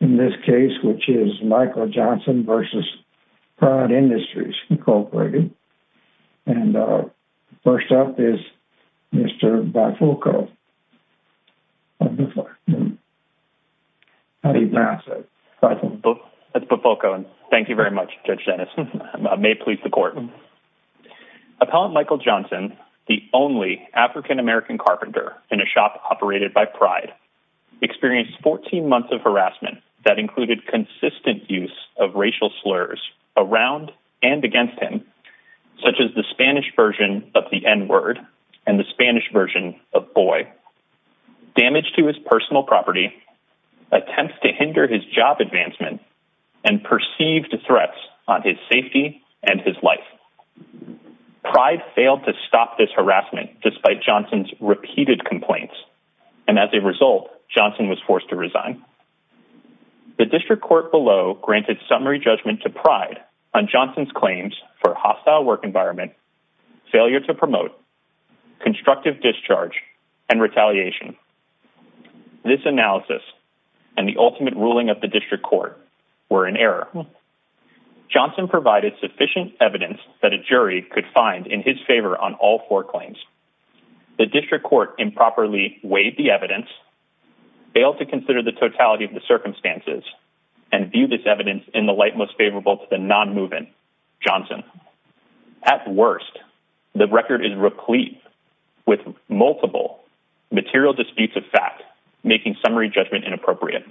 in this case, which is Michael Johnson v. Pride Industries, Incorporated. And first up is Mr. Bifulco. That's Bifulco. Thank you very much, Judge Dennis. I may please the court. Appellant Michael Johnson, the only African-American carpenter in a shop operated by Pride, experienced 14 months of harassment that included consistent use of racial slurs around and against him, such as the Spanish version of the n-word and the Spanish version of boy, damage to his personal property, attempts to hinder his job advancement, and perceived threats on his safety and his life. Pride failed to stop this harassment despite Johnson's repeated complaints, and as a result, Johnson was forced to resign. The district court below granted summary judgment to Pride on Johnson's claims for hostile work environment, failure to promote, constructive discharge, and retaliation. This analysis and the ultimate ruling of the district court were in error. Johnson provided sufficient evidence that a jury could find in his favor on all four claims. The district court improperly weighed the evidence, failed to consider the totality of the circumstances, and viewed this evidence in the light most favorable to the non-moving Johnson. At worst, the record is replete with multiple material disputes of fact, making summary judgment inappropriate.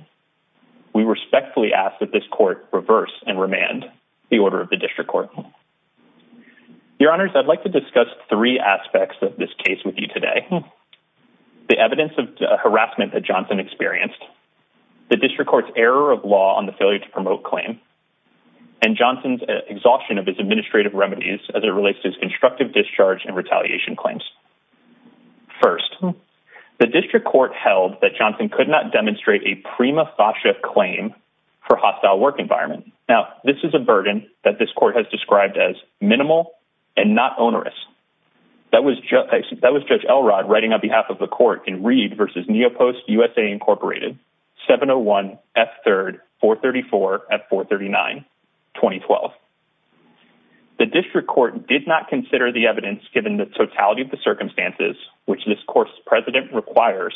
We respectfully ask that this court reverse and remand the order of the district court. Your honors, I'd like to discuss three aspects of this case with you today. The evidence of harassment that Johnson experienced, the district court's error of law on the failure to promote claim, and Johnson's exhaustion of his administrative remedies as it relates to his constructive discharge and retaliation claims. First, the district court held that Johnson could not demonstrate a prima facie claim for hostile work environment. Now, this is a burden that this court has described as minimal and not onerous. That was Judge Elrod writing on behalf of the court in Reed versus Neopost USA, Incorporated, 701 F3, 434 F439, 2012. The district court did not consider the evidence given the totality of the circumstances which this court's president requires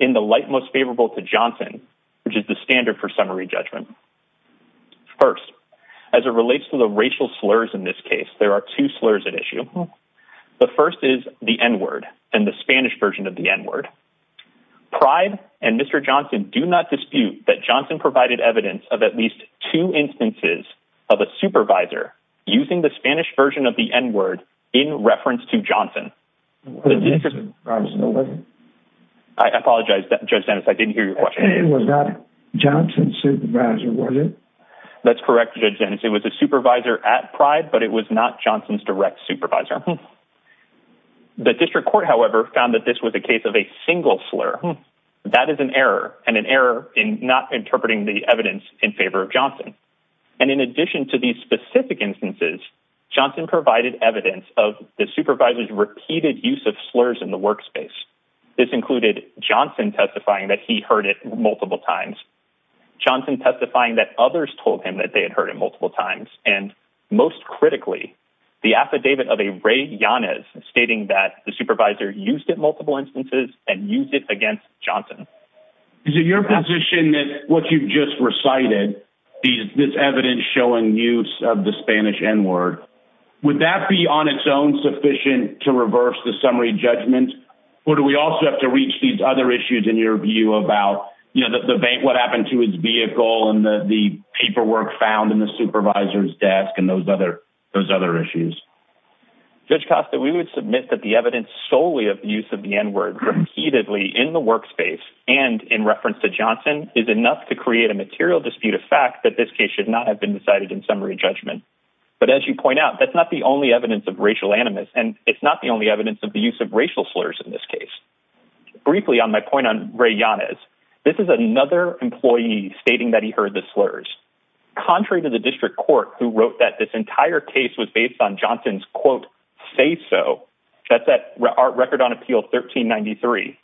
in the light most favorable to Johnson, which is the standard for summary judgment. First, as it relates to the racial slurs in this case, there are two slurs at issue. The first is the N-word and the Spanish version of the N-word. Pride and Mr. Johnson do not dispute that Johnson provided evidence of at least two instances of a supervisor using the Spanish version of the N-word in reference to Johnson. I apologize, Judge Dennis. I didn't hear your question. It was not Johnson's supervisor, was it? That's correct, Judge Dennis. It was a supervisor at Pride, but it was not Johnson's direct supervisor. The district court, however, found that this was a case of a single slur. That is an error and an error in not interpreting the evidence in favor of Johnson. And in addition to these specific instances, Johnson provided evidence of the supervisor's repeated use of slurs in the workspace. This included Johnson testifying that he heard it multiple times, Johnson testifying that others told him that they had heard it multiple times, and most critically, the affidavit of a Ray Yanez stating that the supervisor used it multiple instances and used it against Johnson. Is it your position that what you've just recited, this evidence showing use of the Spanish N-word, would that be on its own sufficient to reverse the summary judgment? Or do we also have to reach these other issues in your view about what happened to his vehicle and the paperwork found in the supervisor's desk and those other issues? Judge Costa, we would submit that the evidence solely of the use of the N-word repeatedly in the workspace and in reference to Johnson is enough to create a material dispute of fact that this case should not have been decided in summary judgment. But as you point out, that's not the only evidence of racial animus, and it's not the only evidence of the use of racial slurs in this case. Briefly on my point on Ray Yanez, this is another employee stating that he heard the slurs. Contrary to the district court who wrote that this entire case was based on Johnson's, say so, that's that record on appeal 1393,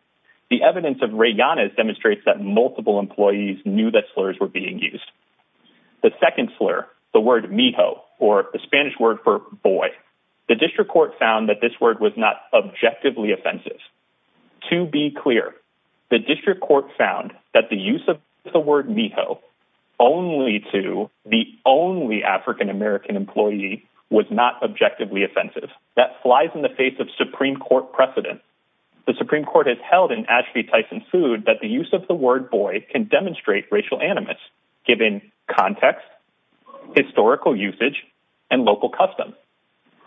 the evidence of Ray Yanez demonstrates that multiple employees knew that slurs were being used. The second slur, the word mijo, or the Spanish word for boy, the district court found that this word was not objectively offensive. To be clear, the district court found that the use of the word mijo only to the only African American employee was not objectively offensive. That flies in the face of Supreme Court precedent. The Supreme Court has held in Ashby Tyson Food that the use of the word boy can demonstrate racial animus given context, historical usage, and local custom.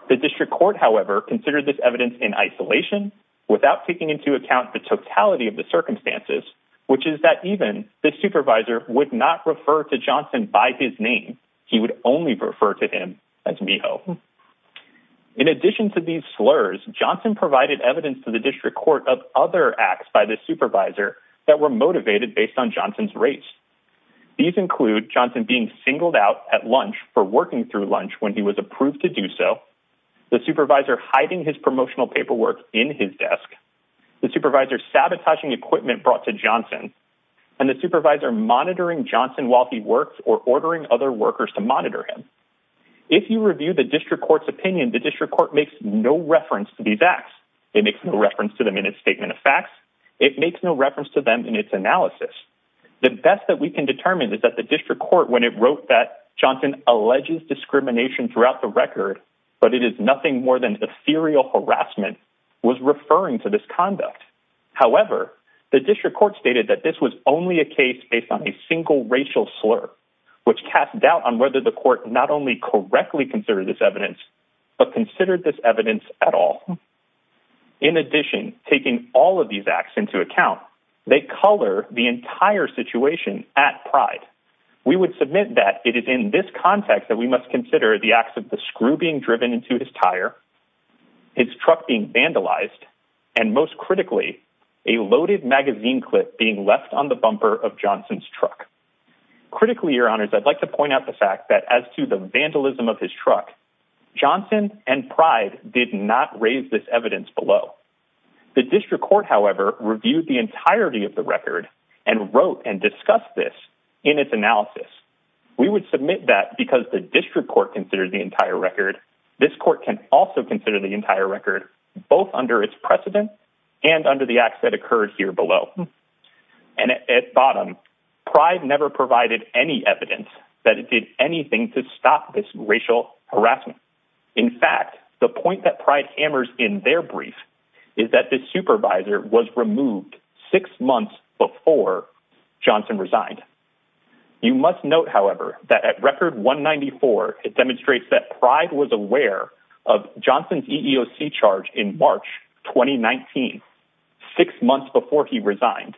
The district court, however, considered this evidence in isolation without taking into account the totality of the circumstances, which is that even the supervisor would not refer to Johnson by his name. He would only refer to him as mijo. In addition to these slurs, Johnson provided evidence to the district court of other acts by the supervisor that were motivated based on Johnson's race. These include Johnson being singled out at lunch for working through lunch when he was approved to do so, the supervisor hiding his promotional paperwork in his desk, the supervisor sabotaging equipment brought to Johnson, and the supervisor monitoring Johnson while he worked or ordering other workers to monitor him. If you review the district court's opinion, the district court makes no reference to these acts. It makes no reference to them in its statement of facts. It makes no reference to them in its analysis. The best that we can determine is that the district court, when it wrote that Johnson alleges discrimination throughout the record, but it is nothing more than ethereal harassment, was referring to this conduct. However, the district court stated that this was only a case based on a single racial slur, which cast doubt on whether the court not only correctly considered this evidence, but considered this evidence at all. In addition, taking all of these acts into account, they color the entire situation at pride. We would submit that it is in this context that we must consider the acts of the screw being driven into his tire, his truck being vandalized, and most critically, a loaded magazine clip being left on the bumper of Johnson's truck. Critically, your honors, I'd like to point out the fact that as to the vandalism of his truck, Johnson and pride did not raise this evidence below. The district court, however, reviewed the entirety of the record and wrote and discussed this in its analysis. We would the entire record, both under its precedent and under the acts that occurred here below. At bottom, pride never provided any evidence that it did anything to stop this racial harassment. In fact, the point that pride hammers in their brief is that the supervisor was removed six months before Johnson resigned. You must note, however, that at record 194, it demonstrates that Johnson's EEOC charge in March 2019, six months before he resigned,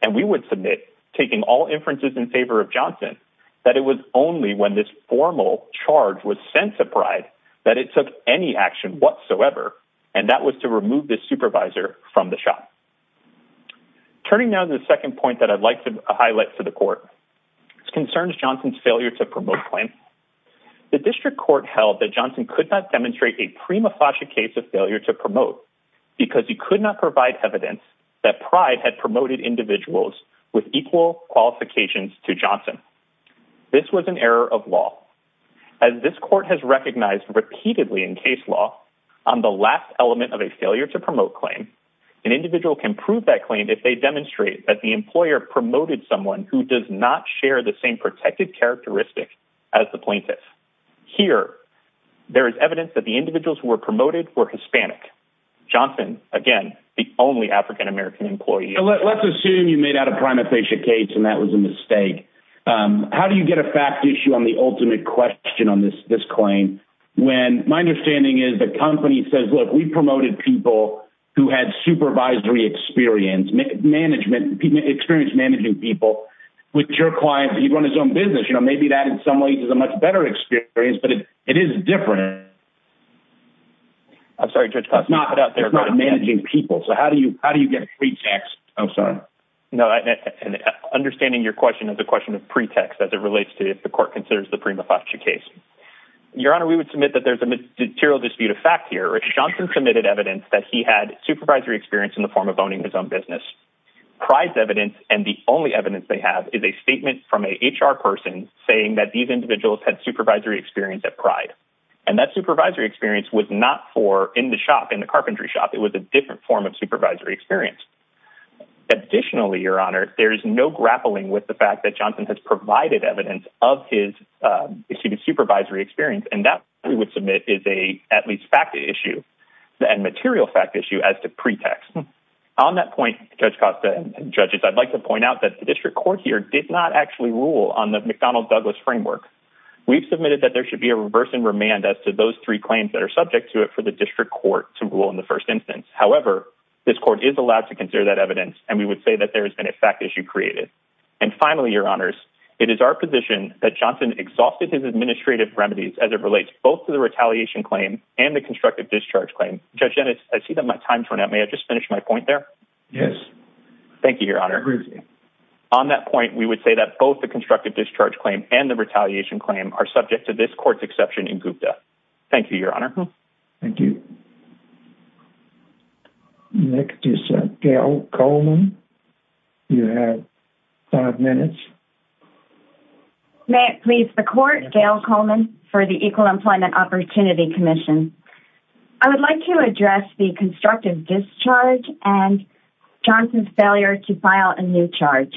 and we would submit taking all inferences in favor of Johnson, that it was only when this formal charge was sent to pride that it took any action whatsoever, and that was to remove the supervisor from the shop. Turning now to the second point that I'd like to highlight for the court, this concerns Johnson's failure to promote plans. The district court held that Johnson could not demonstrate a prima facie case of failure to promote because he could not provide evidence that pride had promoted individuals with equal qualifications to Johnson. This was an error of law. As this court has recognized repeatedly in case law on the last element of a failure to promote claim, an individual can prove that claim if they demonstrate that the employer promoted someone who does not share the same protected characteristic as the plaintiff. Here, there is evidence that the individuals who were promoted were Hispanic. Johnson, again, the only African American employee. Let's assume you made out a prima facie case and that was a mistake. How do you get a fact issue on the ultimate question on this claim when my understanding is the company says, look, we promoted people who had supervisory experience, experience managing people with your clients. He'd run his own business. You know, maybe that in some ways is a much better experience, but it is different. I'm sorry, judge, not that they're not managing people. So how do you, how do you get free tax? I'm sorry. No, and understanding your question is a question of pretext as it relates to if the court considers the prima facie case, your honor, we would submit that there's a material dispute of fact here. Johnson submitted evidence that he had supervisory experience in the form of owning his own business pride evidence. And the only evidence they have is a statement from a HR person saying that these individuals had supervisory experience at pride. And that supervisory experience was not for in the shop, in the carpentry shop, it was a different form of supervisory experience. Additionally, your honor, there is no grappling with the fact that Johnson has provided evidence of his, uh, his supervisory experience. And that we would submit is a, at least fact issue and material fact issue as to pretext on that point, judge Costa judges. I'd like to point out that the district court here did not actually rule on the McDonald Douglas framework. We've submitted that there should be a reverse and remand as to those three claims that are subject to it for the district court to rule in the first instance. However, this court is allowed to consider that evidence. And we would say that there has been a fact issue created. And finally, your honors, it is our position that Johnson exhausted his administrative remedies as it I see that my time turned out. May I just finish my point there? Yes. Thank you, your honor. On that point, we would say that both the constructive discharge claim and the retaliation claim are subject to this court's exception in Gupta. Thank you, your honor. Thank you. Next is Gail Coleman. You have five minutes. May it please the court Gail Coleman for the equal employment opportunity commission. I would like to address the constructive discharge and Johnson's failure to file a new charge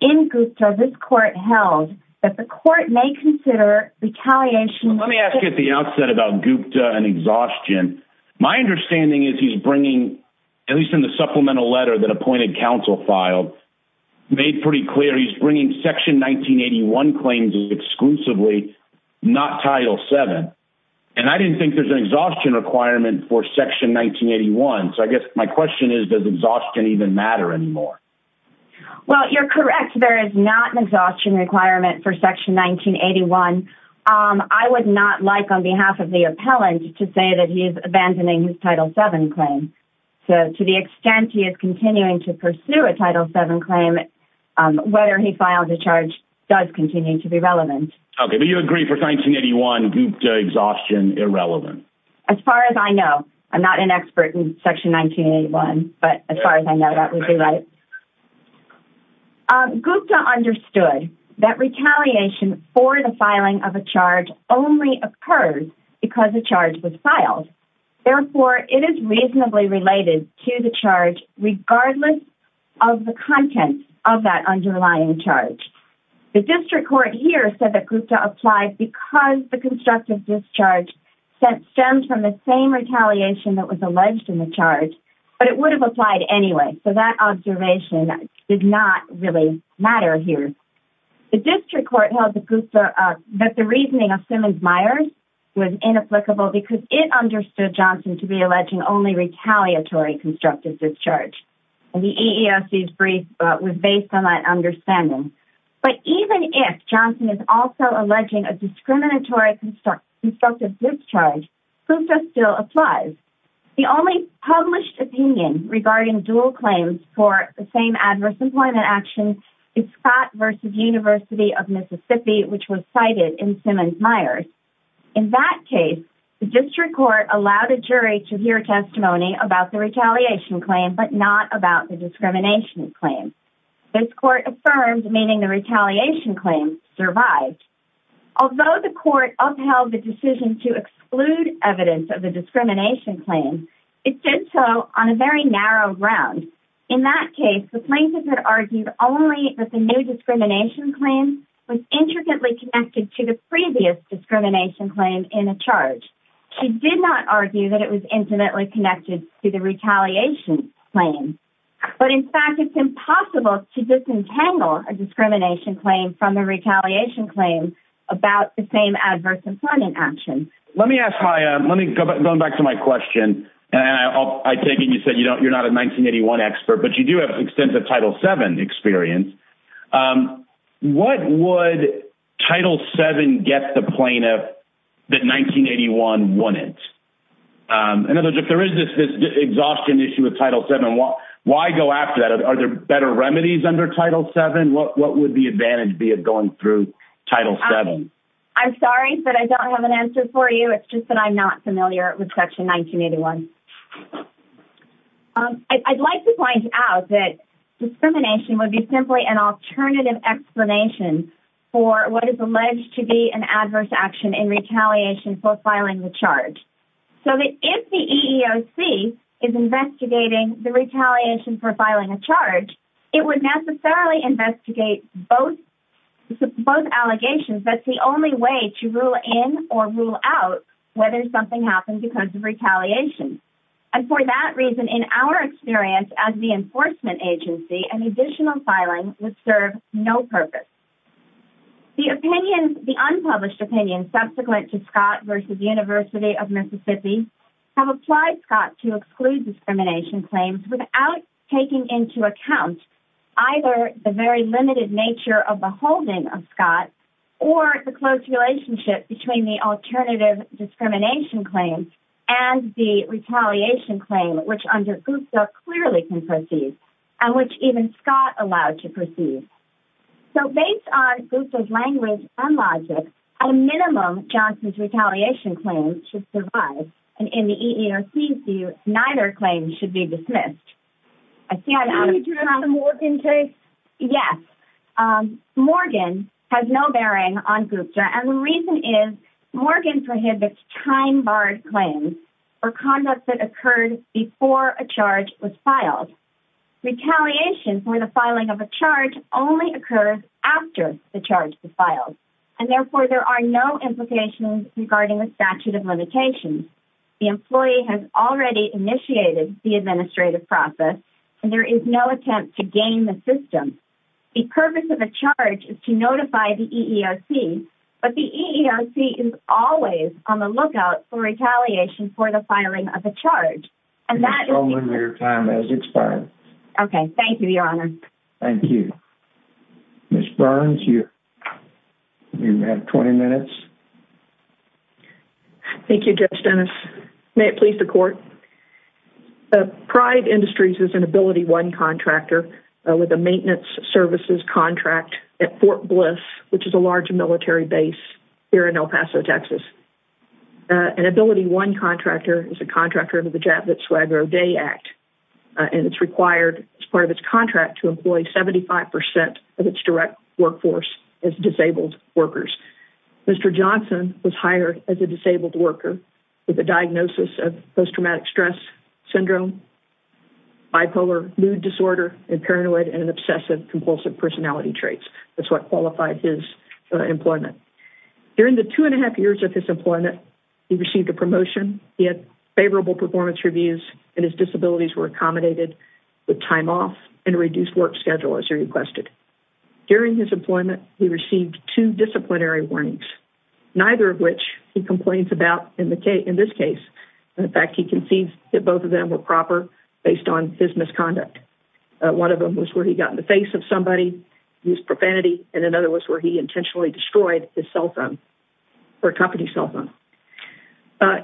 in group service court held that the court may consider retaliation. Let me ask you at the outset about Gupta and exhaustion. My understanding is he's bringing, at least in the supplemental letter that appointed counsel filed made pretty clear. He's bringing section 1981 claims exclusively, not title seven. And I didn't think there's an exhaustion requirement for section 1981. So I guess my question is, does exhaustion even matter anymore? Well, you're correct. There is not an exhaustion requirement for section 1981. I would not like on behalf of the appellant to say that he is abandoning his title seven claim. So to the extent he is continuing to pursue a title seven claim, um, whether he filed a charge does continue to be relevant. Okay. Do you agree for 1981 Gupta exhaustion irrelevant? As far as I know, I'm not an expert in section 1981, but as far as I know, that would be right. Um, Gupta understood that retaliation for the filing of a charge only occurs because the charge was filed. Therefore it is reasonably related to the charge, regardless of the content of that underlying charge. The district court here said that Gupta applied because the constructive discharge sent stemmed from the same retaliation that was alleged in the charge, but it would have applied anyway. So that observation did not really matter here. The district court held the Gupta, uh, that the reasoning of Simmons Meyers was inapplicable because it understood Johnson to be alleging only retaliatory constructive discharge. And the EEOC's brief was based on that understanding. But even if Johnson is also alleging a discriminatory construct, constructive discharge, Gupta still applies. The only published opinion regarding dual claims for the same adverse employment actions is Scott versus University of Mississippi, which was cited in Simmons Meyers. In that case, the district court allowed a jury to hear testimony about the retaliation claim, but not about the discrimination claim. This court affirmed, meaning the retaliation claim survived. Although the court upheld the decision to exclude evidence of the discrimination claim, it did so on a very narrow ground. In that claim was intricately connected to the previous discrimination claim in a charge. She did not argue that it was intimately connected to the retaliation claim, but in fact, it's impossible to disentangle a discrimination claim from a retaliation claim about the same adverse employment action. Let me ask, let me go back to my question and I'll, I take it. You said you don't, you're What would Title VII get the plaintiff that 1981 wouldn't? In other words, if there is this exhaustion issue with Title VII, why go after that? Are there better remedies under Title VII? What would the advantage be of going through Title VII? I'm sorry, but I don't have an answer for you. It's just that I'm not familiar with Section 1981. I'd like to point out that discrimination would be simply an alternative explanation for what is alleged to be an adverse action in retaliation for filing the charge. So if the EEOC is investigating the retaliation for filing a charge, it would necessarily investigate both, both allegations. That's the only way to rule in or rule out whether something happened because of retaliation. And for that reason, in our experience as the enforcement agency, an additional filing would serve no purpose. The opinion, the unpublished opinion subsequent to Scott versus University of Mississippi have applied Scott to exclude discrimination claims without taking into account either the very limited nature of the holding of Scott or the close relationship between the alternative discrimination claims and the and which even Scott allowed to proceed. So based on Gupta's language and logic, a minimum Johnson's retaliation claim should survive. And in the EEOC's view, neither claim should be dismissed. I see... Can you address the Morgan case? Yes. Morgan has no bearing on Gupta, and the reason is Morgan prohibits time-barred claims or conduct that occurred before a charge was filed. Retaliation for the filing of a charge only occurs after the charge is filed, and therefore there are no implications regarding the statute of limitations. The employee has already initiated the administrative process, and there is no attempt to gain the system. The purpose of a charge is to notify the EEOC, but the EEOC is always on the lookout for retaliation for the filing of a charge, and that is... Your time has expired. Okay. Thank you, Your Honor. Thank you. Ms. Burns, you have 20 minutes. Thank you, Judge Dennis. May it please the court. The Pride Industries is an AbilityOne contractor with a maintenance services contract at Fort Hill Military Base here in El Paso, Texas. An AbilityOne contractor is a contractor of the Javits-Swagger O'Day Act, and it's required as part of its contract to employ 75% of its direct workforce as disabled workers. Mr. Johnson was hired as a disabled worker with a diagnosis of post-traumatic stress syndrome, bipolar mood disorder, and paranoid and obsessive-compulsive personality traits. That's what qualified his employment. During the two and a half years of his employment, he received a promotion, he had favorable performance reviews, and his disabilities were accommodated with time off and a reduced work schedule, as you requested. During his employment, he received two disciplinary warnings, neither of which he complains about in this case. In fact, he concedes that both of them were proper based on his profanity, and in other words, where he intentionally destroyed his cell phone, or company's cell phone.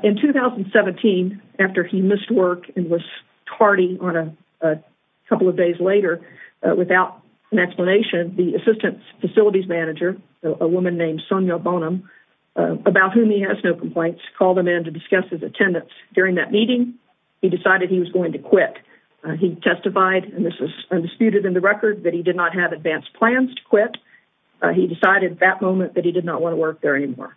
In 2017, after he missed work and was tardy on a couple of days later, without an explanation, the assistant facilities manager, a woman named Sonia Bonham, about whom he has no complaints, called him in to discuss his attendance. During that meeting, he decided he was going to quit. He testified, and this is undisputed in the record, that he did not have advanced plans to quit. He decided at that moment that he did not want to work there anymore.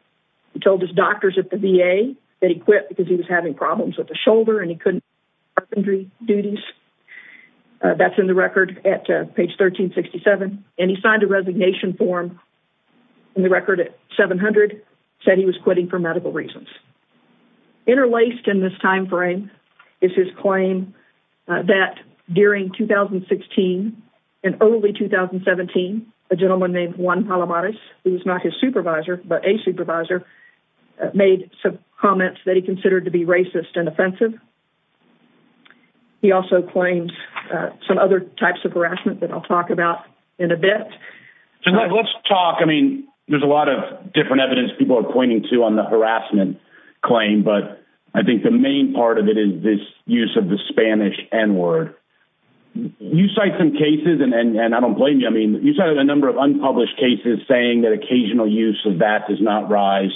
He told his doctors at the VA that he quit because he was having problems with the shoulder, and he couldn't do urgency duties. That's in the record at page 1367, and he signed a resignation form in the record at 700, said he was quitting for medical reasons. Interlaced in this time frame is his claim that during 2016 and early 2017, a gentleman named Juan Palomares, who was not his supervisor, but a supervisor, made some comments that he considered to be racist and offensive. He also claims some other types of harassment that I'll talk about in a bit. Let's talk, I mean, there's a lot of different evidence people are pointing to on the harassment claim, but I think the main part of it is this use of the Spanish N-word. You cite some cases, and I don't blame you, I mean, you cited a number of unpublished cases saying that occasional use of that does not rise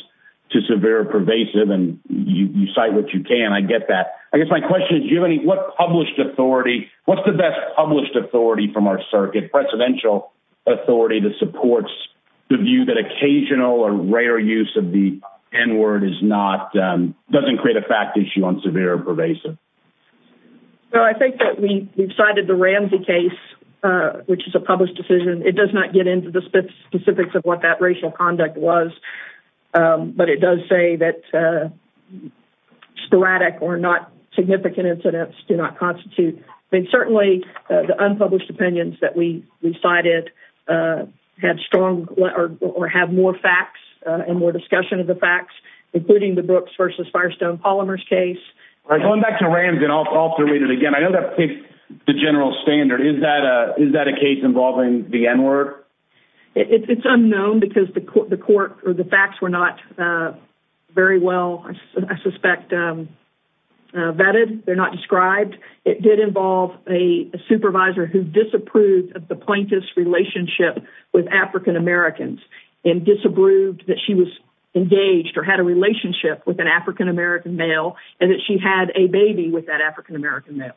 to severe or pervasive, and you cite what you can. I get that. I guess my question is, do you have any, what published authority, what's the best published authority from our circuit, presidential authority that supports the view that occasional or rare use of the N-word is not, doesn't create a fact issue on severe or pervasive? Well, I think that we've cited the Ramsey case, which is a published decision. It does not get into the specifics of what that racial conduct was, but it does say that sporadic or not significant incidents do not constitute, but certainly the unpublished opinions that we and more discussion of the facts, including the Brooks versus Firestone-Polymers case. Going back to Ramsey, and I'll have to read it again. I know that picked the general standard. Is that a case involving the N-word? It's unknown because the court, or the facts were not very well, I suspect, vetted. They're not described. It did involve a supervisor who disapproved of the plaintiff's relationship with African-Americans and disapproved that she was engaged or had a relationship with an African-American male and that she had a baby with that African-American male.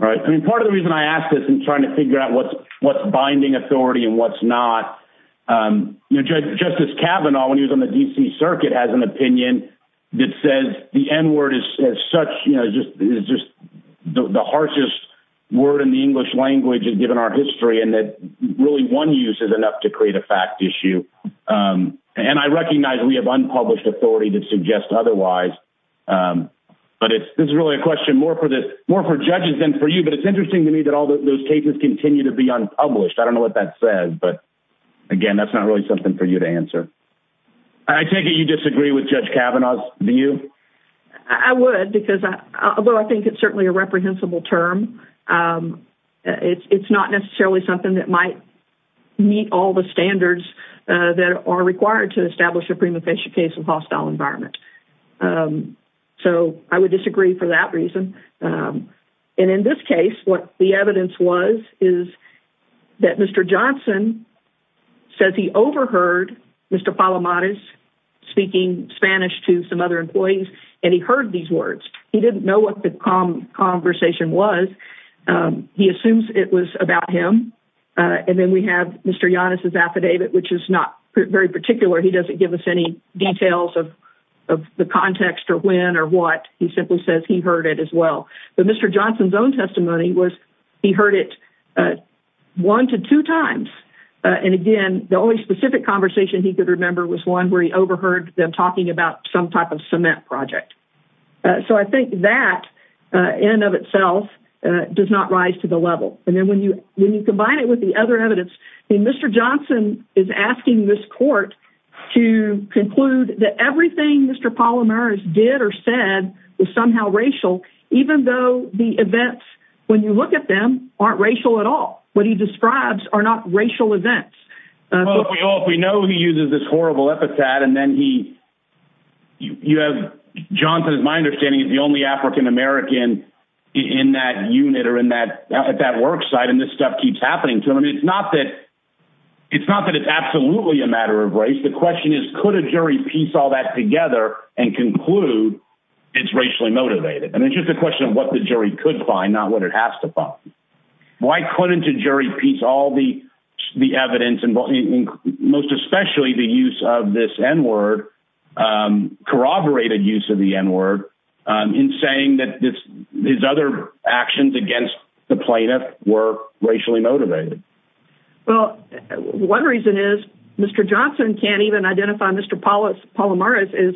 All right. I mean, part of the reason I ask this and trying to figure out what's binding authority and what's not, Justice Kavanaugh, when he was on the DC circuit, has an opinion that says the N-word is such, is just the harshest word in the English language and our history and that really one use is enough to create a fact issue. I recognize we have unpublished authority that suggests otherwise, but it's really a question more for judges than for you. But it's interesting to me that all those cases continue to be unpublished. I don't know what that says, but again, that's not really something for you to answer. I take it you disagree with Judge Kavanaugh's view? I would because I think it's certainly a reprehensible term. It's not necessarily something that might meet all the standards that are required to establish a prima facie case of hostile environment. So I would disagree for that reason. And in this case, what the evidence was is that Mr. Johnson says he overheard Mr. Palamadas speaking Spanish to some other employees and he heard these words. He didn't know what the conversation was. He assumes it was about him. And then we have Mr. Yannis' affidavit, which is not very particular. He doesn't give us any details of the context or when or what. He simply says he heard it as well. But Mr. Johnson's own testimony was he heard it one to two times. And again, the only specific conversation he could remember was one where he overheard them talking about some type of cement project. So I think that in and of itself does not rise to the level. And then when you combine it with the other evidence, Mr. Johnson is asking this court to conclude that everything Mr. Palamadas did or said was somehow racial, even though the events, when you look at them, aren't racial at all. What he describes are not racial events. Well, if we know he uses this horrible epithet and then he, you have Johnson, as my understanding, is the only African American in that unit or at that work site, and this stuff keeps happening to him. It's not that it's absolutely a matter of race. The question is, could a jury piece all that together and conclude it's racially motivated? And it's just a question of what the jury could find, not what it has to find. Why couldn't a jury piece all the evidence and most especially the use of this N-word, corroborated use of the N-word in saying that his other actions against the plaintiff were racially motivated? Well, one reason is Mr. Johnson can't even identify Mr. Palamadas as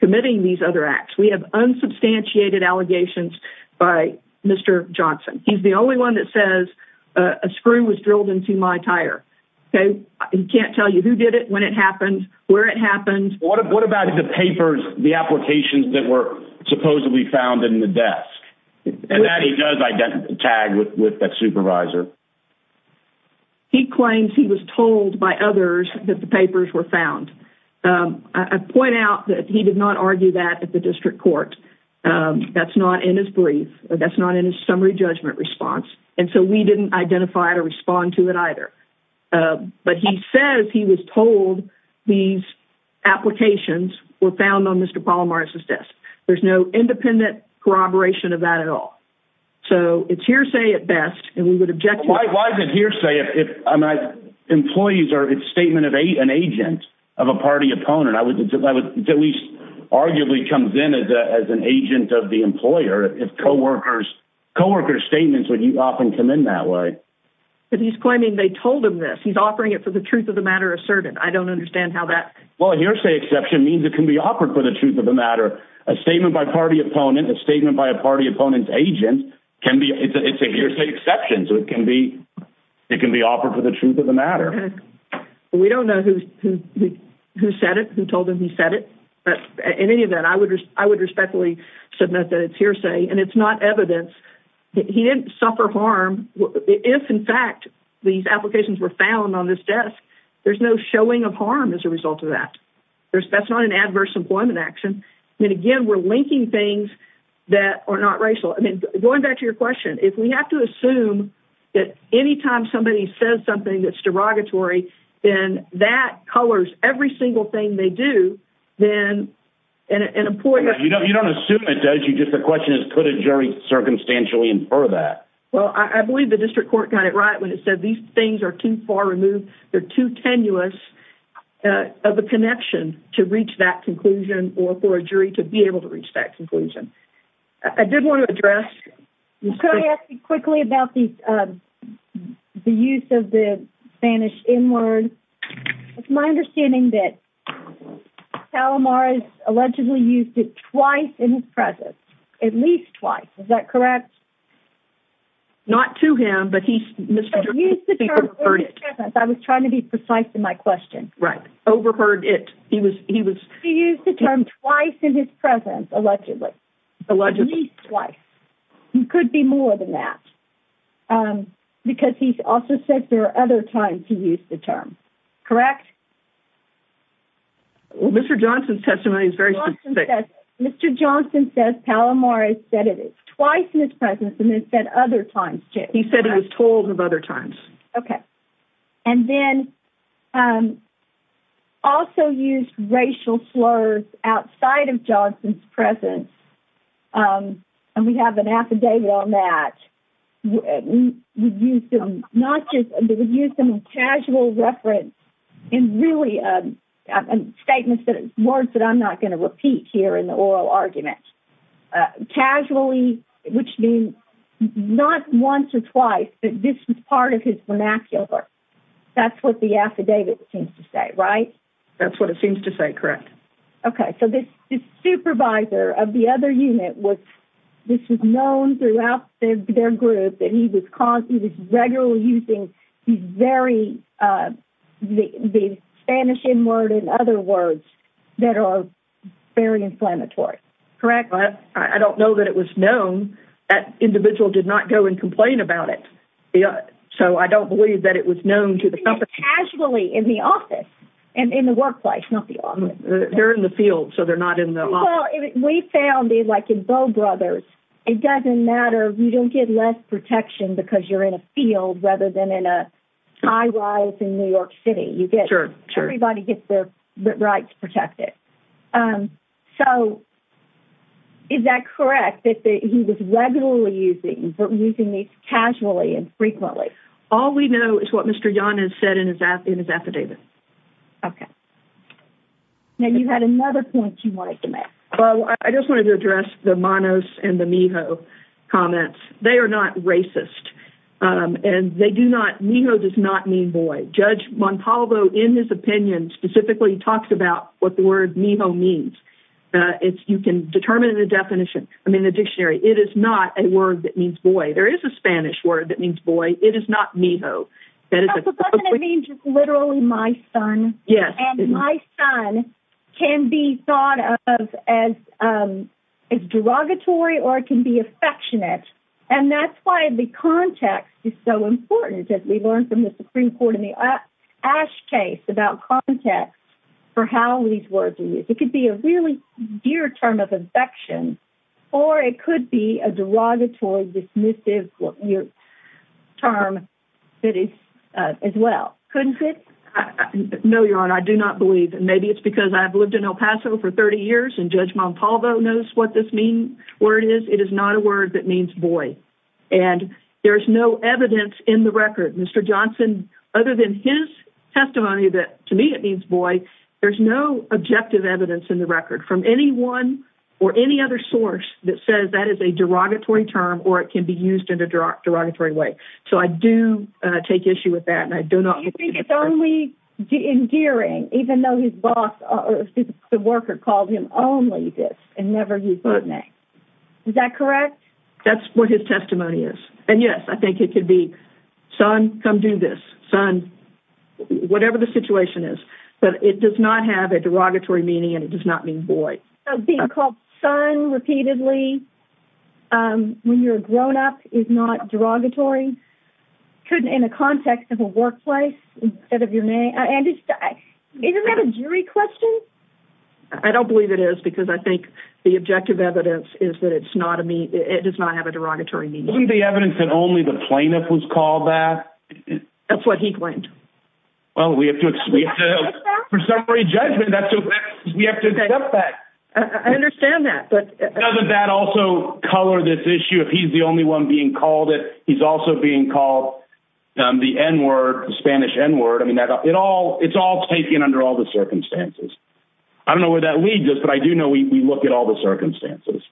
committing these other acts. We have unsubstantiated allegations by Mr. Johnson. He's the only one that says a screw was drilled into my tire. He can't tell you who did it, when it happened, where it happened. What about the papers, the applications that were supposedly found in the desk? And that he does tag with that supervisor. He claims he was told by others that the papers were found. I point out that he did not argue that at the district court. That's not in his brief. That's not in his summary judgment response. And so we didn't identify or respond to it either. But he says he was told these applications were found on Mr. Palamadas. So it's hearsay at best. Why is it hearsay? Employees are a statement of an agent of a party opponent. That at least arguably comes in as an agent of the employer. If co-workers statements would often come in that way. But he's claiming they told him this. He's offering it for the truth of the matter asserted. I don't understand how that... Well, a hearsay exception means it can be offered for the truth of the matter. A statement by a party opponent, a statement by a party opponent's agent, it's a hearsay exception. So it can be offered for the truth of the matter. We don't know who said it, who told him he said it. But in any event, I would respectfully submit that it's hearsay. And it's not evidence. He didn't suffer harm. If, in fact, these applications were found on this desk, there's no showing of harm as a result of that. That's not an adverse employment action. And again, we're linking things that are not racial. I mean, going back to your question, if we have to assume that anytime somebody says something that's derogatory, then that colors every single thing they do, then an employer... You don't assume it does. The question is, could a jury circumstantially infer that? Well, I believe the district court got it right when it said these things are too far removed. They're too tenuous of a connection to reach that conclusion or for a jury to be able to reach that conclusion. I did want to address... Can I ask you quickly about the use of the Spanish N-word? It's my understanding that Palomar has allegedly used it twice in his presence, at least twice. Is that correct? Yes. Not to him, but he's... Mr. Johnson's speaker heard it. I was trying to be precise in my question. Right. Overheard it. He was... He used the term twice in his presence, allegedly. Allegedly. At least twice. It could be more than that, because he's also said there are other times he used the term. Correct? Well, Mr. Johnson's testimony is very specific. Mr. Johnson says Palomar has said it twice in his presence, and then said other times, too. He said he was told of other times. Okay. And then also used racial slurs outside of Johnson's presence, and we have an affidavit on that. We've used them not just... We've used them in casual reference in really statements that... Words that I'm not going to repeat here in the oral argument. Casually, which means not once or twice, but this is part of his vernacular. That's what the affidavit seems to say, right? That's what it seems to say. Correct. Okay. So this supervisor of the other unit was... This was known throughout their group that he was regularly using these very... The Spanish N-word and other words that are very inflammatory. Correct. I don't know that it was known. That individual did not go and complain about it, so I don't believe that it was known to the company. Casually in the office and in the workplace, not the office. They're in the field, so they're not in the office. Well, we found it like in Bow Brothers. It doesn't matter. You don't get less protection because you're in a field rather than in a high-rise in New York City. You get... Sure, sure. Everybody gets the right to protect it. So is that correct that he was regularly using these casually and frequently? All we know is what Mr. Yan has said in his affidavit. Okay. Now, you had another point you wanted to make. Well, I just wanted to address the Manos and the Mijo comments. They are not racist, and they do not... Mijo does not mean boy. Judge Montalvo, in his opinion, specifically talks about what the word Mijo means. You can determine the definition. I mean, the dictionary. It is not a word that means boy. There is a Spanish word that means boy. It is not Mijo. But doesn't it mean just literally my son? Yes. And my son can be thought of as derogatory or it can be affectionate, and that's why the context is so ash case about context for how these words are used. It could be a really dear term of affection, or it could be a derogatory dismissive term that is as well. Couldn't it? No, Your Honor. I do not believe. Maybe it's because I've lived in El Paso for 30 years, and Judge Montalvo knows what this word is. It is not a word that means boy. And there is no evidence in the record. Mr. Johnson, other than his testimony that, to me, it means boy, there's no objective evidence in the record from anyone or any other source that says that is a derogatory term or it can be used in a derogatory way. So I do take issue with that, and I do not... Do you think it's only endearing even though the worker called him only this and never used that name? Is that correct? That's what his testimony is. And yes, I think it could be, son, come do this, son, whatever the situation is. But it does not have a derogatory meaning, and it does not mean boy. Being called son repeatedly when you're a grown-up is not derogatory in a context of a workplace instead of your name? And isn't that a jury question? I don't believe it is because I think the objective evidence is that it does not have a derogatory meaning. Isn't the evidence that only the plaintiff was called that? That's what he claimed. Well, we have to, for summary judgment, we have to accept that. I understand that, but... Doesn't that also color this issue? If he's the only one being called it, he's also being called the N word, the Spanish N word. I mean, it's all taken under all the circumstances. I don't know where that leads us, but I do know we look at all the circumstances.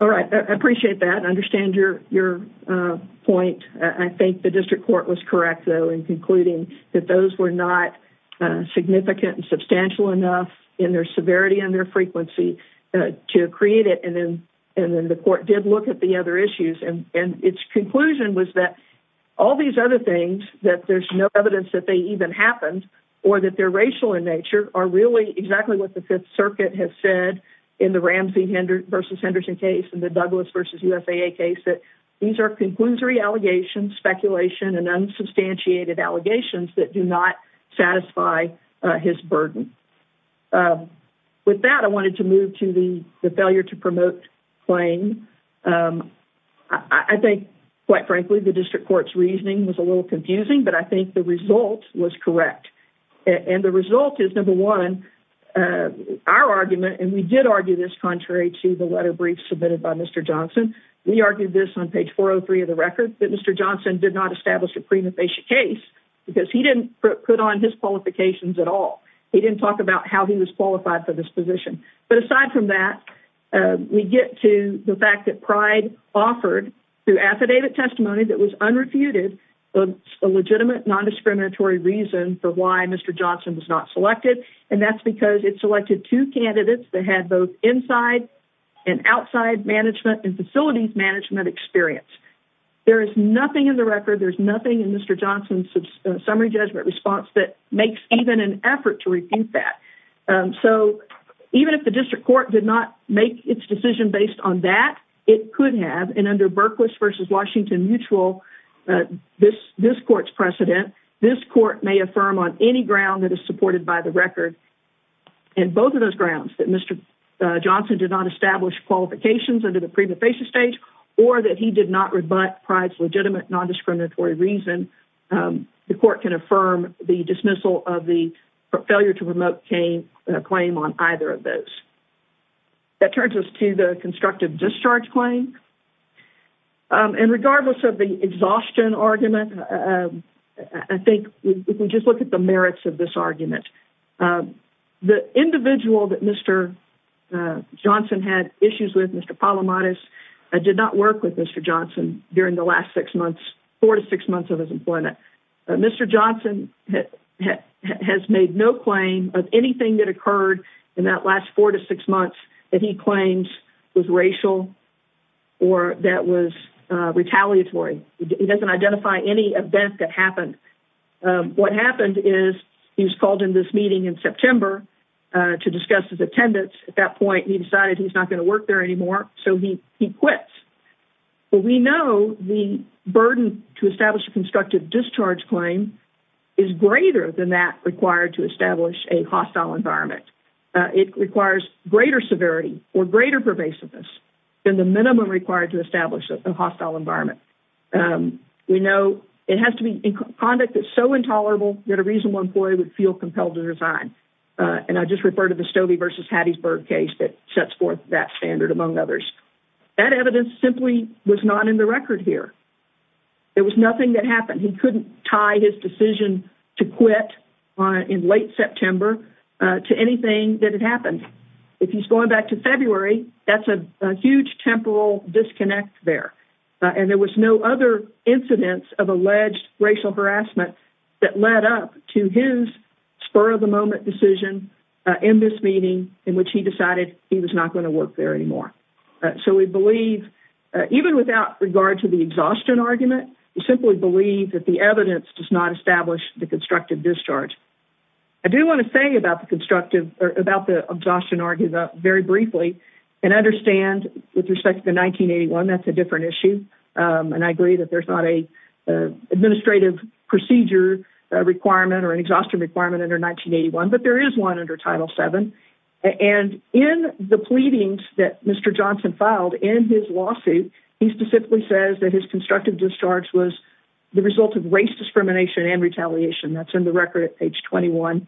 All right. I appreciate that. I understand your point. I think the district court was correct, though, in concluding that those were not significant and substantial enough in their severity and their frequency to create it. And then the court did look at the other issues, and its conclusion was that all these other things, that there's no evidence that they even happened or that they're racial in nature, are really exactly what the Fifth Circuit has said in the Ramsey versus Henderson case and the Douglas versus USAA case, that these are conclusory allegations, speculation, and unsubstantiated allegations that do not satisfy his burden. With that, I wanted to move to the failure to promote claim. I think, quite frankly, the district court's reasoning was a little confusing, but I think the result was correct. And the result is, number one, our argument, and we did argue this contrary to the letter brief submitted by Mr. Johnson. We argued this on page 403 of the record, that Mr. Johnson did not establish a prima facie case because he didn't put on his qualifications at all. He didn't talk about how he was qualified for this position. But aside from that, we get to the fact that Pride offered through affidavit testimony that was unrefuted a legitimate non-discriminatory reason for why Mr. Johnson was not selected. And that's because it selected two candidates that had both inside and outside management and facilities management experience. There is nothing in the record, there's nothing in Mr. Johnson's summary judgment response that makes even an effort to refute that. So even if the district court did not make its decision based on that, it could have, and under Berkowitz v. Washington Mutual, this court's precedent, this court may affirm on any ground that is supported by the record, and both of those grounds, that Mr. Johnson did not establish qualifications under the prima facie stage, or that he did not rebut Pride's legitimate non-discriminatory reason, the court can affirm the dismissal of the failure to promote Cain on either of those. That turns us to the constructive discharge claim. And regardless of the exhaustion argument, I think if we just look at the merits of this argument, the individual that Mr. Johnson had issues with, Mr. Palamides, did not work with Mr. Johnson during the last six months, four to six months of his employment. Mr. Johnson has made no claim of anything that occurred in that last four to six months that he claims was racial, or that was retaliatory. He doesn't identify any event that happened. What happened is he was called in this meeting in September to discuss his attendance. At that point, he decided he's not going to work there anymore, so he quits. But we know the burden to establish a constructive discharge claim is greater than that required to establish a hostile environment. It requires greater severity or greater pervasiveness than the minimum required to establish a hostile environment. We know it has to be conduct that's so intolerable that a reasonable employee would feel compelled to resign. And I just refer to the Stobie v. Hattiesburg case that sets forth that standard, among others. That evidence simply was not in the record here. There was nothing that couldn't tie his decision to quit in late September to anything that had happened. If he's going back to February, that's a huge temporal disconnect there. And there was no other incidence of alleged racial harassment that led up to his spur-of-the-moment decision in this meeting in which he decided he was not going to work there anymore. So we believe, even without regard to the exhaustion argument, we simply believe that the evidence does not establish the constructive discharge. I do want to say about the constructive or about the exhaustion argument very briefly and understand with respect to 1981, that's a different issue. And I agree that there's not an administrative procedure requirement or an Title VII. And in the pleadings that Mr. Johnson filed in his lawsuit, he specifically says that his constructive discharge was the result of race discrimination and retaliation. That's in the record at page 21.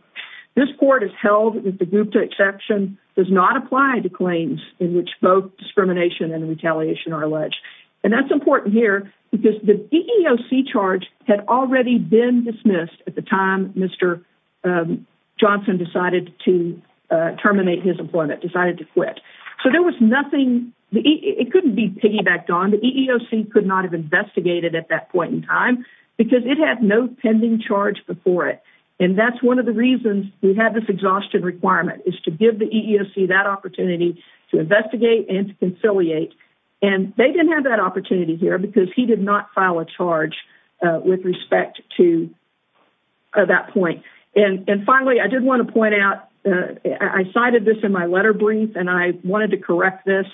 This court has held that the Gupta exception does not apply to claims in which both discrimination and retaliation are alleged. And that's important here because the EEOC charge had already been dismissed at the time Mr. Johnson decided to terminate his employment, decided to quit. So there was nothing, it couldn't be piggybacked on. The EEOC could not have investigated at that point in time because it had no pending charge before it. And that's one of the reasons we have this exhaustion requirement is to give the EEOC that opportunity to investigate and to conciliate. And they didn't have that opportunity here because he did not file a charge with respect to that point. And finally, I did want to point out, I cited this in my letter brief and I wanted to correct this.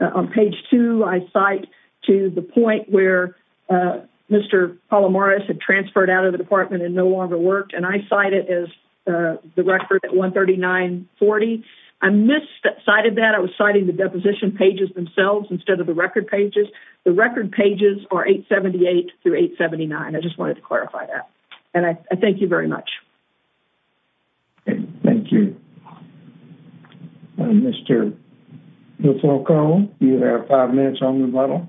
On page two, I cite to the point where Mr. Palomares had transferred out of the department and no longer worked. And I cite it as the record at 13940. I mis-cited that. I was citing the deposition pages themselves instead of the record pages. The record pages are 878 through 879. I just wanted to clarify that. And I thank you very much. Thank you. Mr. DeFalcone, you have five minutes on the button.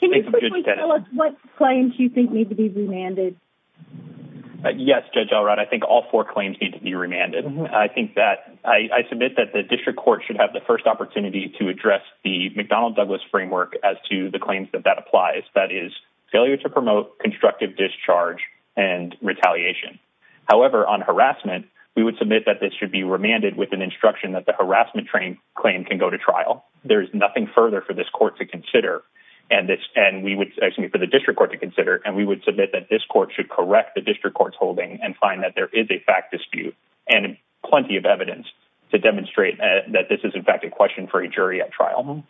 Can you please tell us what claims you think need to be remanded? Yes, Judge Elrod. I think all four claims need to be remanded. I think that, I submit that the McDonnell-Douglas framework as to the claims that that applies, that is failure to promote constructive discharge and retaliation. However, on harassment, we would submit that this should be remanded with an instruction that the harassment claim can go to trial. There is nothing further for this court to consider, and we would, excuse me, for the district court to consider, and we would submit that this court should correct the district court's holding and find that there is a fact dispute and plenty of evidence to demonstrate that this is, in fact, a question for a jury at trial.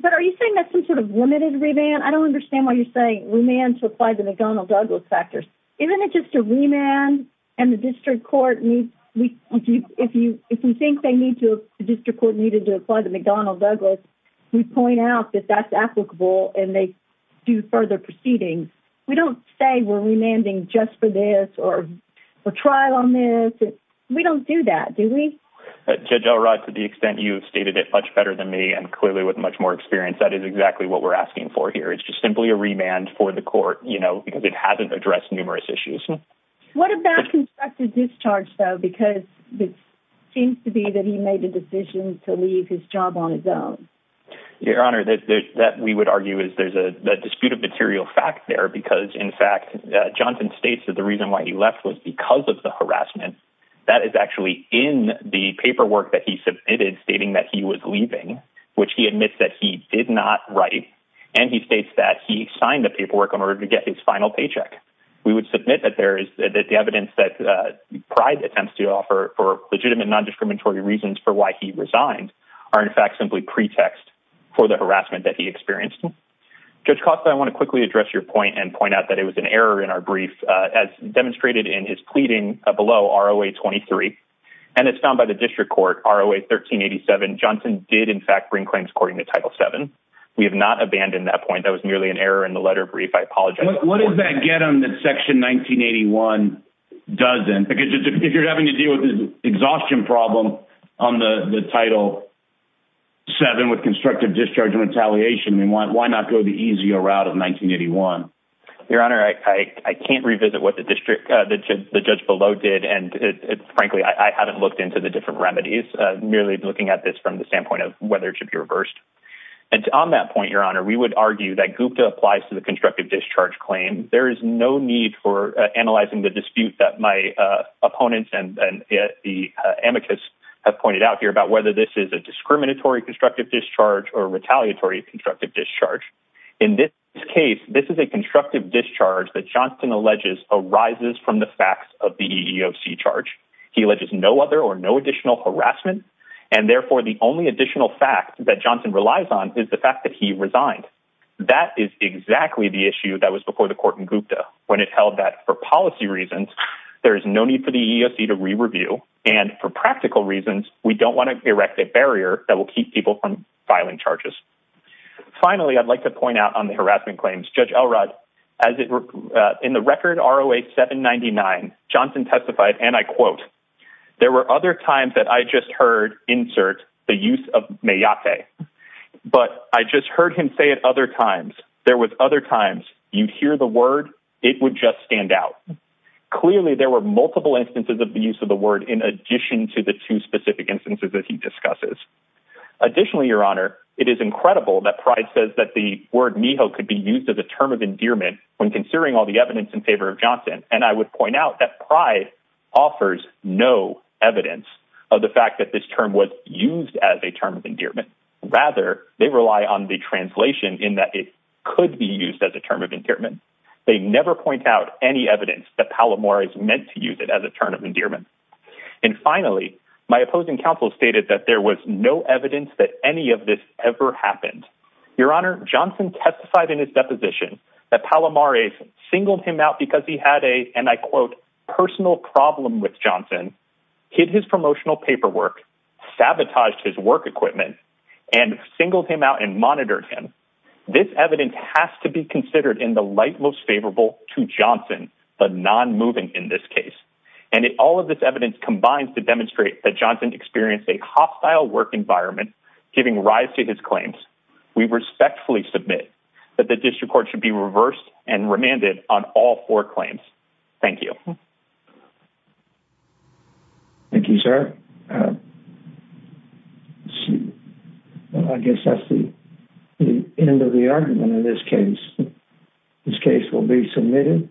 But are you saying that's some sort of limited remand? I don't understand why you're saying remand to apply the McDonnell-Douglas factors. Isn't it just a remand and the district court needs, if you think they need to, the district court needed to apply the McDonnell-Douglas, we point out that that's applicable and they do further proceedings. We don't say we're remanding just for this or for trial on this. We don't do that, do we? Judge Elrod, to the extent you've stated it much better than me, and clearly with much more experience, that is exactly what we're asking for here. It's just simply a remand for the court, you know, because it hasn't addressed numerous issues. What about constructive discharge, though? Because it seems to be that he made a decision to leave his job on his own. Your Honor, that we would argue is there's a dispute of material fact there because, in fact, Johnson states that the reason why he left was because of the harassment. That is actually in the paperwork that he submitted stating that he was leaving, which he admits that he did not write, and he states that he signed the paperwork in order to get his final paycheck. We would submit that there is the evidence that Pride attempts to offer for legitimate non-discriminatory reasons for why he resigned are, in fact, simply pretext for the harassment that he experienced. Judge Costa, I want to quickly address your point and as demonstrated in his pleading below, ROA 23, and as found by the district court, ROA 1387, Johnson did, in fact, bring claims according to Title VII. We have not abandoned that point. That was merely an error in the letter brief. I apologize. What does that get him that Section 1981 doesn't? Because if you're having to deal with an exhaustion problem on the Title VII with constructive discharge and retaliation, why not go the easier route of 1981? Your Honor, I can't revisit what the judge below did, and frankly, I haven't looked into the different remedies, merely looking at this from the standpoint of whether it should be reversed. On that point, Your Honor, we would argue that Gupta applies to the constructive discharge claim. There is no need for analyzing the dispute that my opponents and the amicus have pointed out here about whether this is a discriminatory constructive discharge or constructive discharge that Johnson alleges arises from the facts of the EEOC charge. He alleges no other or no additional harassment, and therefore, the only additional fact that Johnson relies on is the fact that he resigned. That is exactly the issue that was before the court in Gupta when it held that for policy reasons, there is no need for the EEOC to re-review, and for practical reasons, we don't want to erect a barrier that will keep people from filing charges. Finally, I'd like to point out on the harassment claims. Judge Elrod, in the record ROA 799, Johnson testified, and I quote, there were other times that I just heard, insert, the use of mayate, but I just heard him say it other times. There was other times you'd hear the word, it would just stand out. Clearly, there were multiple instances of the use of the in addition to the two specific instances that he discusses. Additionally, Your Honor, it is incredible that Pride says that the word could be used as a term of endearment when considering all the evidence in favor of Johnson, and I would point out that Pride offers no evidence of the fact that this term was used as a term of endearment. Rather, they rely on the translation in that it could be used as a term of endearment. They never point out any evidence that Palomar meant to use it as a term of endearment. Finally, my opposing counsel stated that there was no evidence that any of this ever happened. Your Honor, Johnson testified in his deposition that Palomar singled him out because he had a, and I quote, personal problem with Johnson, hid his promotional paperwork, sabotaged his work equipment, and singled him out and monitored him. This evidence has to be considered in the light most favorable to Johnson, but non-moving in this case. And if all of this evidence combines to demonstrate that Johnson experienced a hostile work environment giving rise to his claims, we respectfully submit that the district court should be reversed and remanded on all four claims. Thank you. Thank you, sir. I guess that's the end of the argument in this case. This case will be submitted.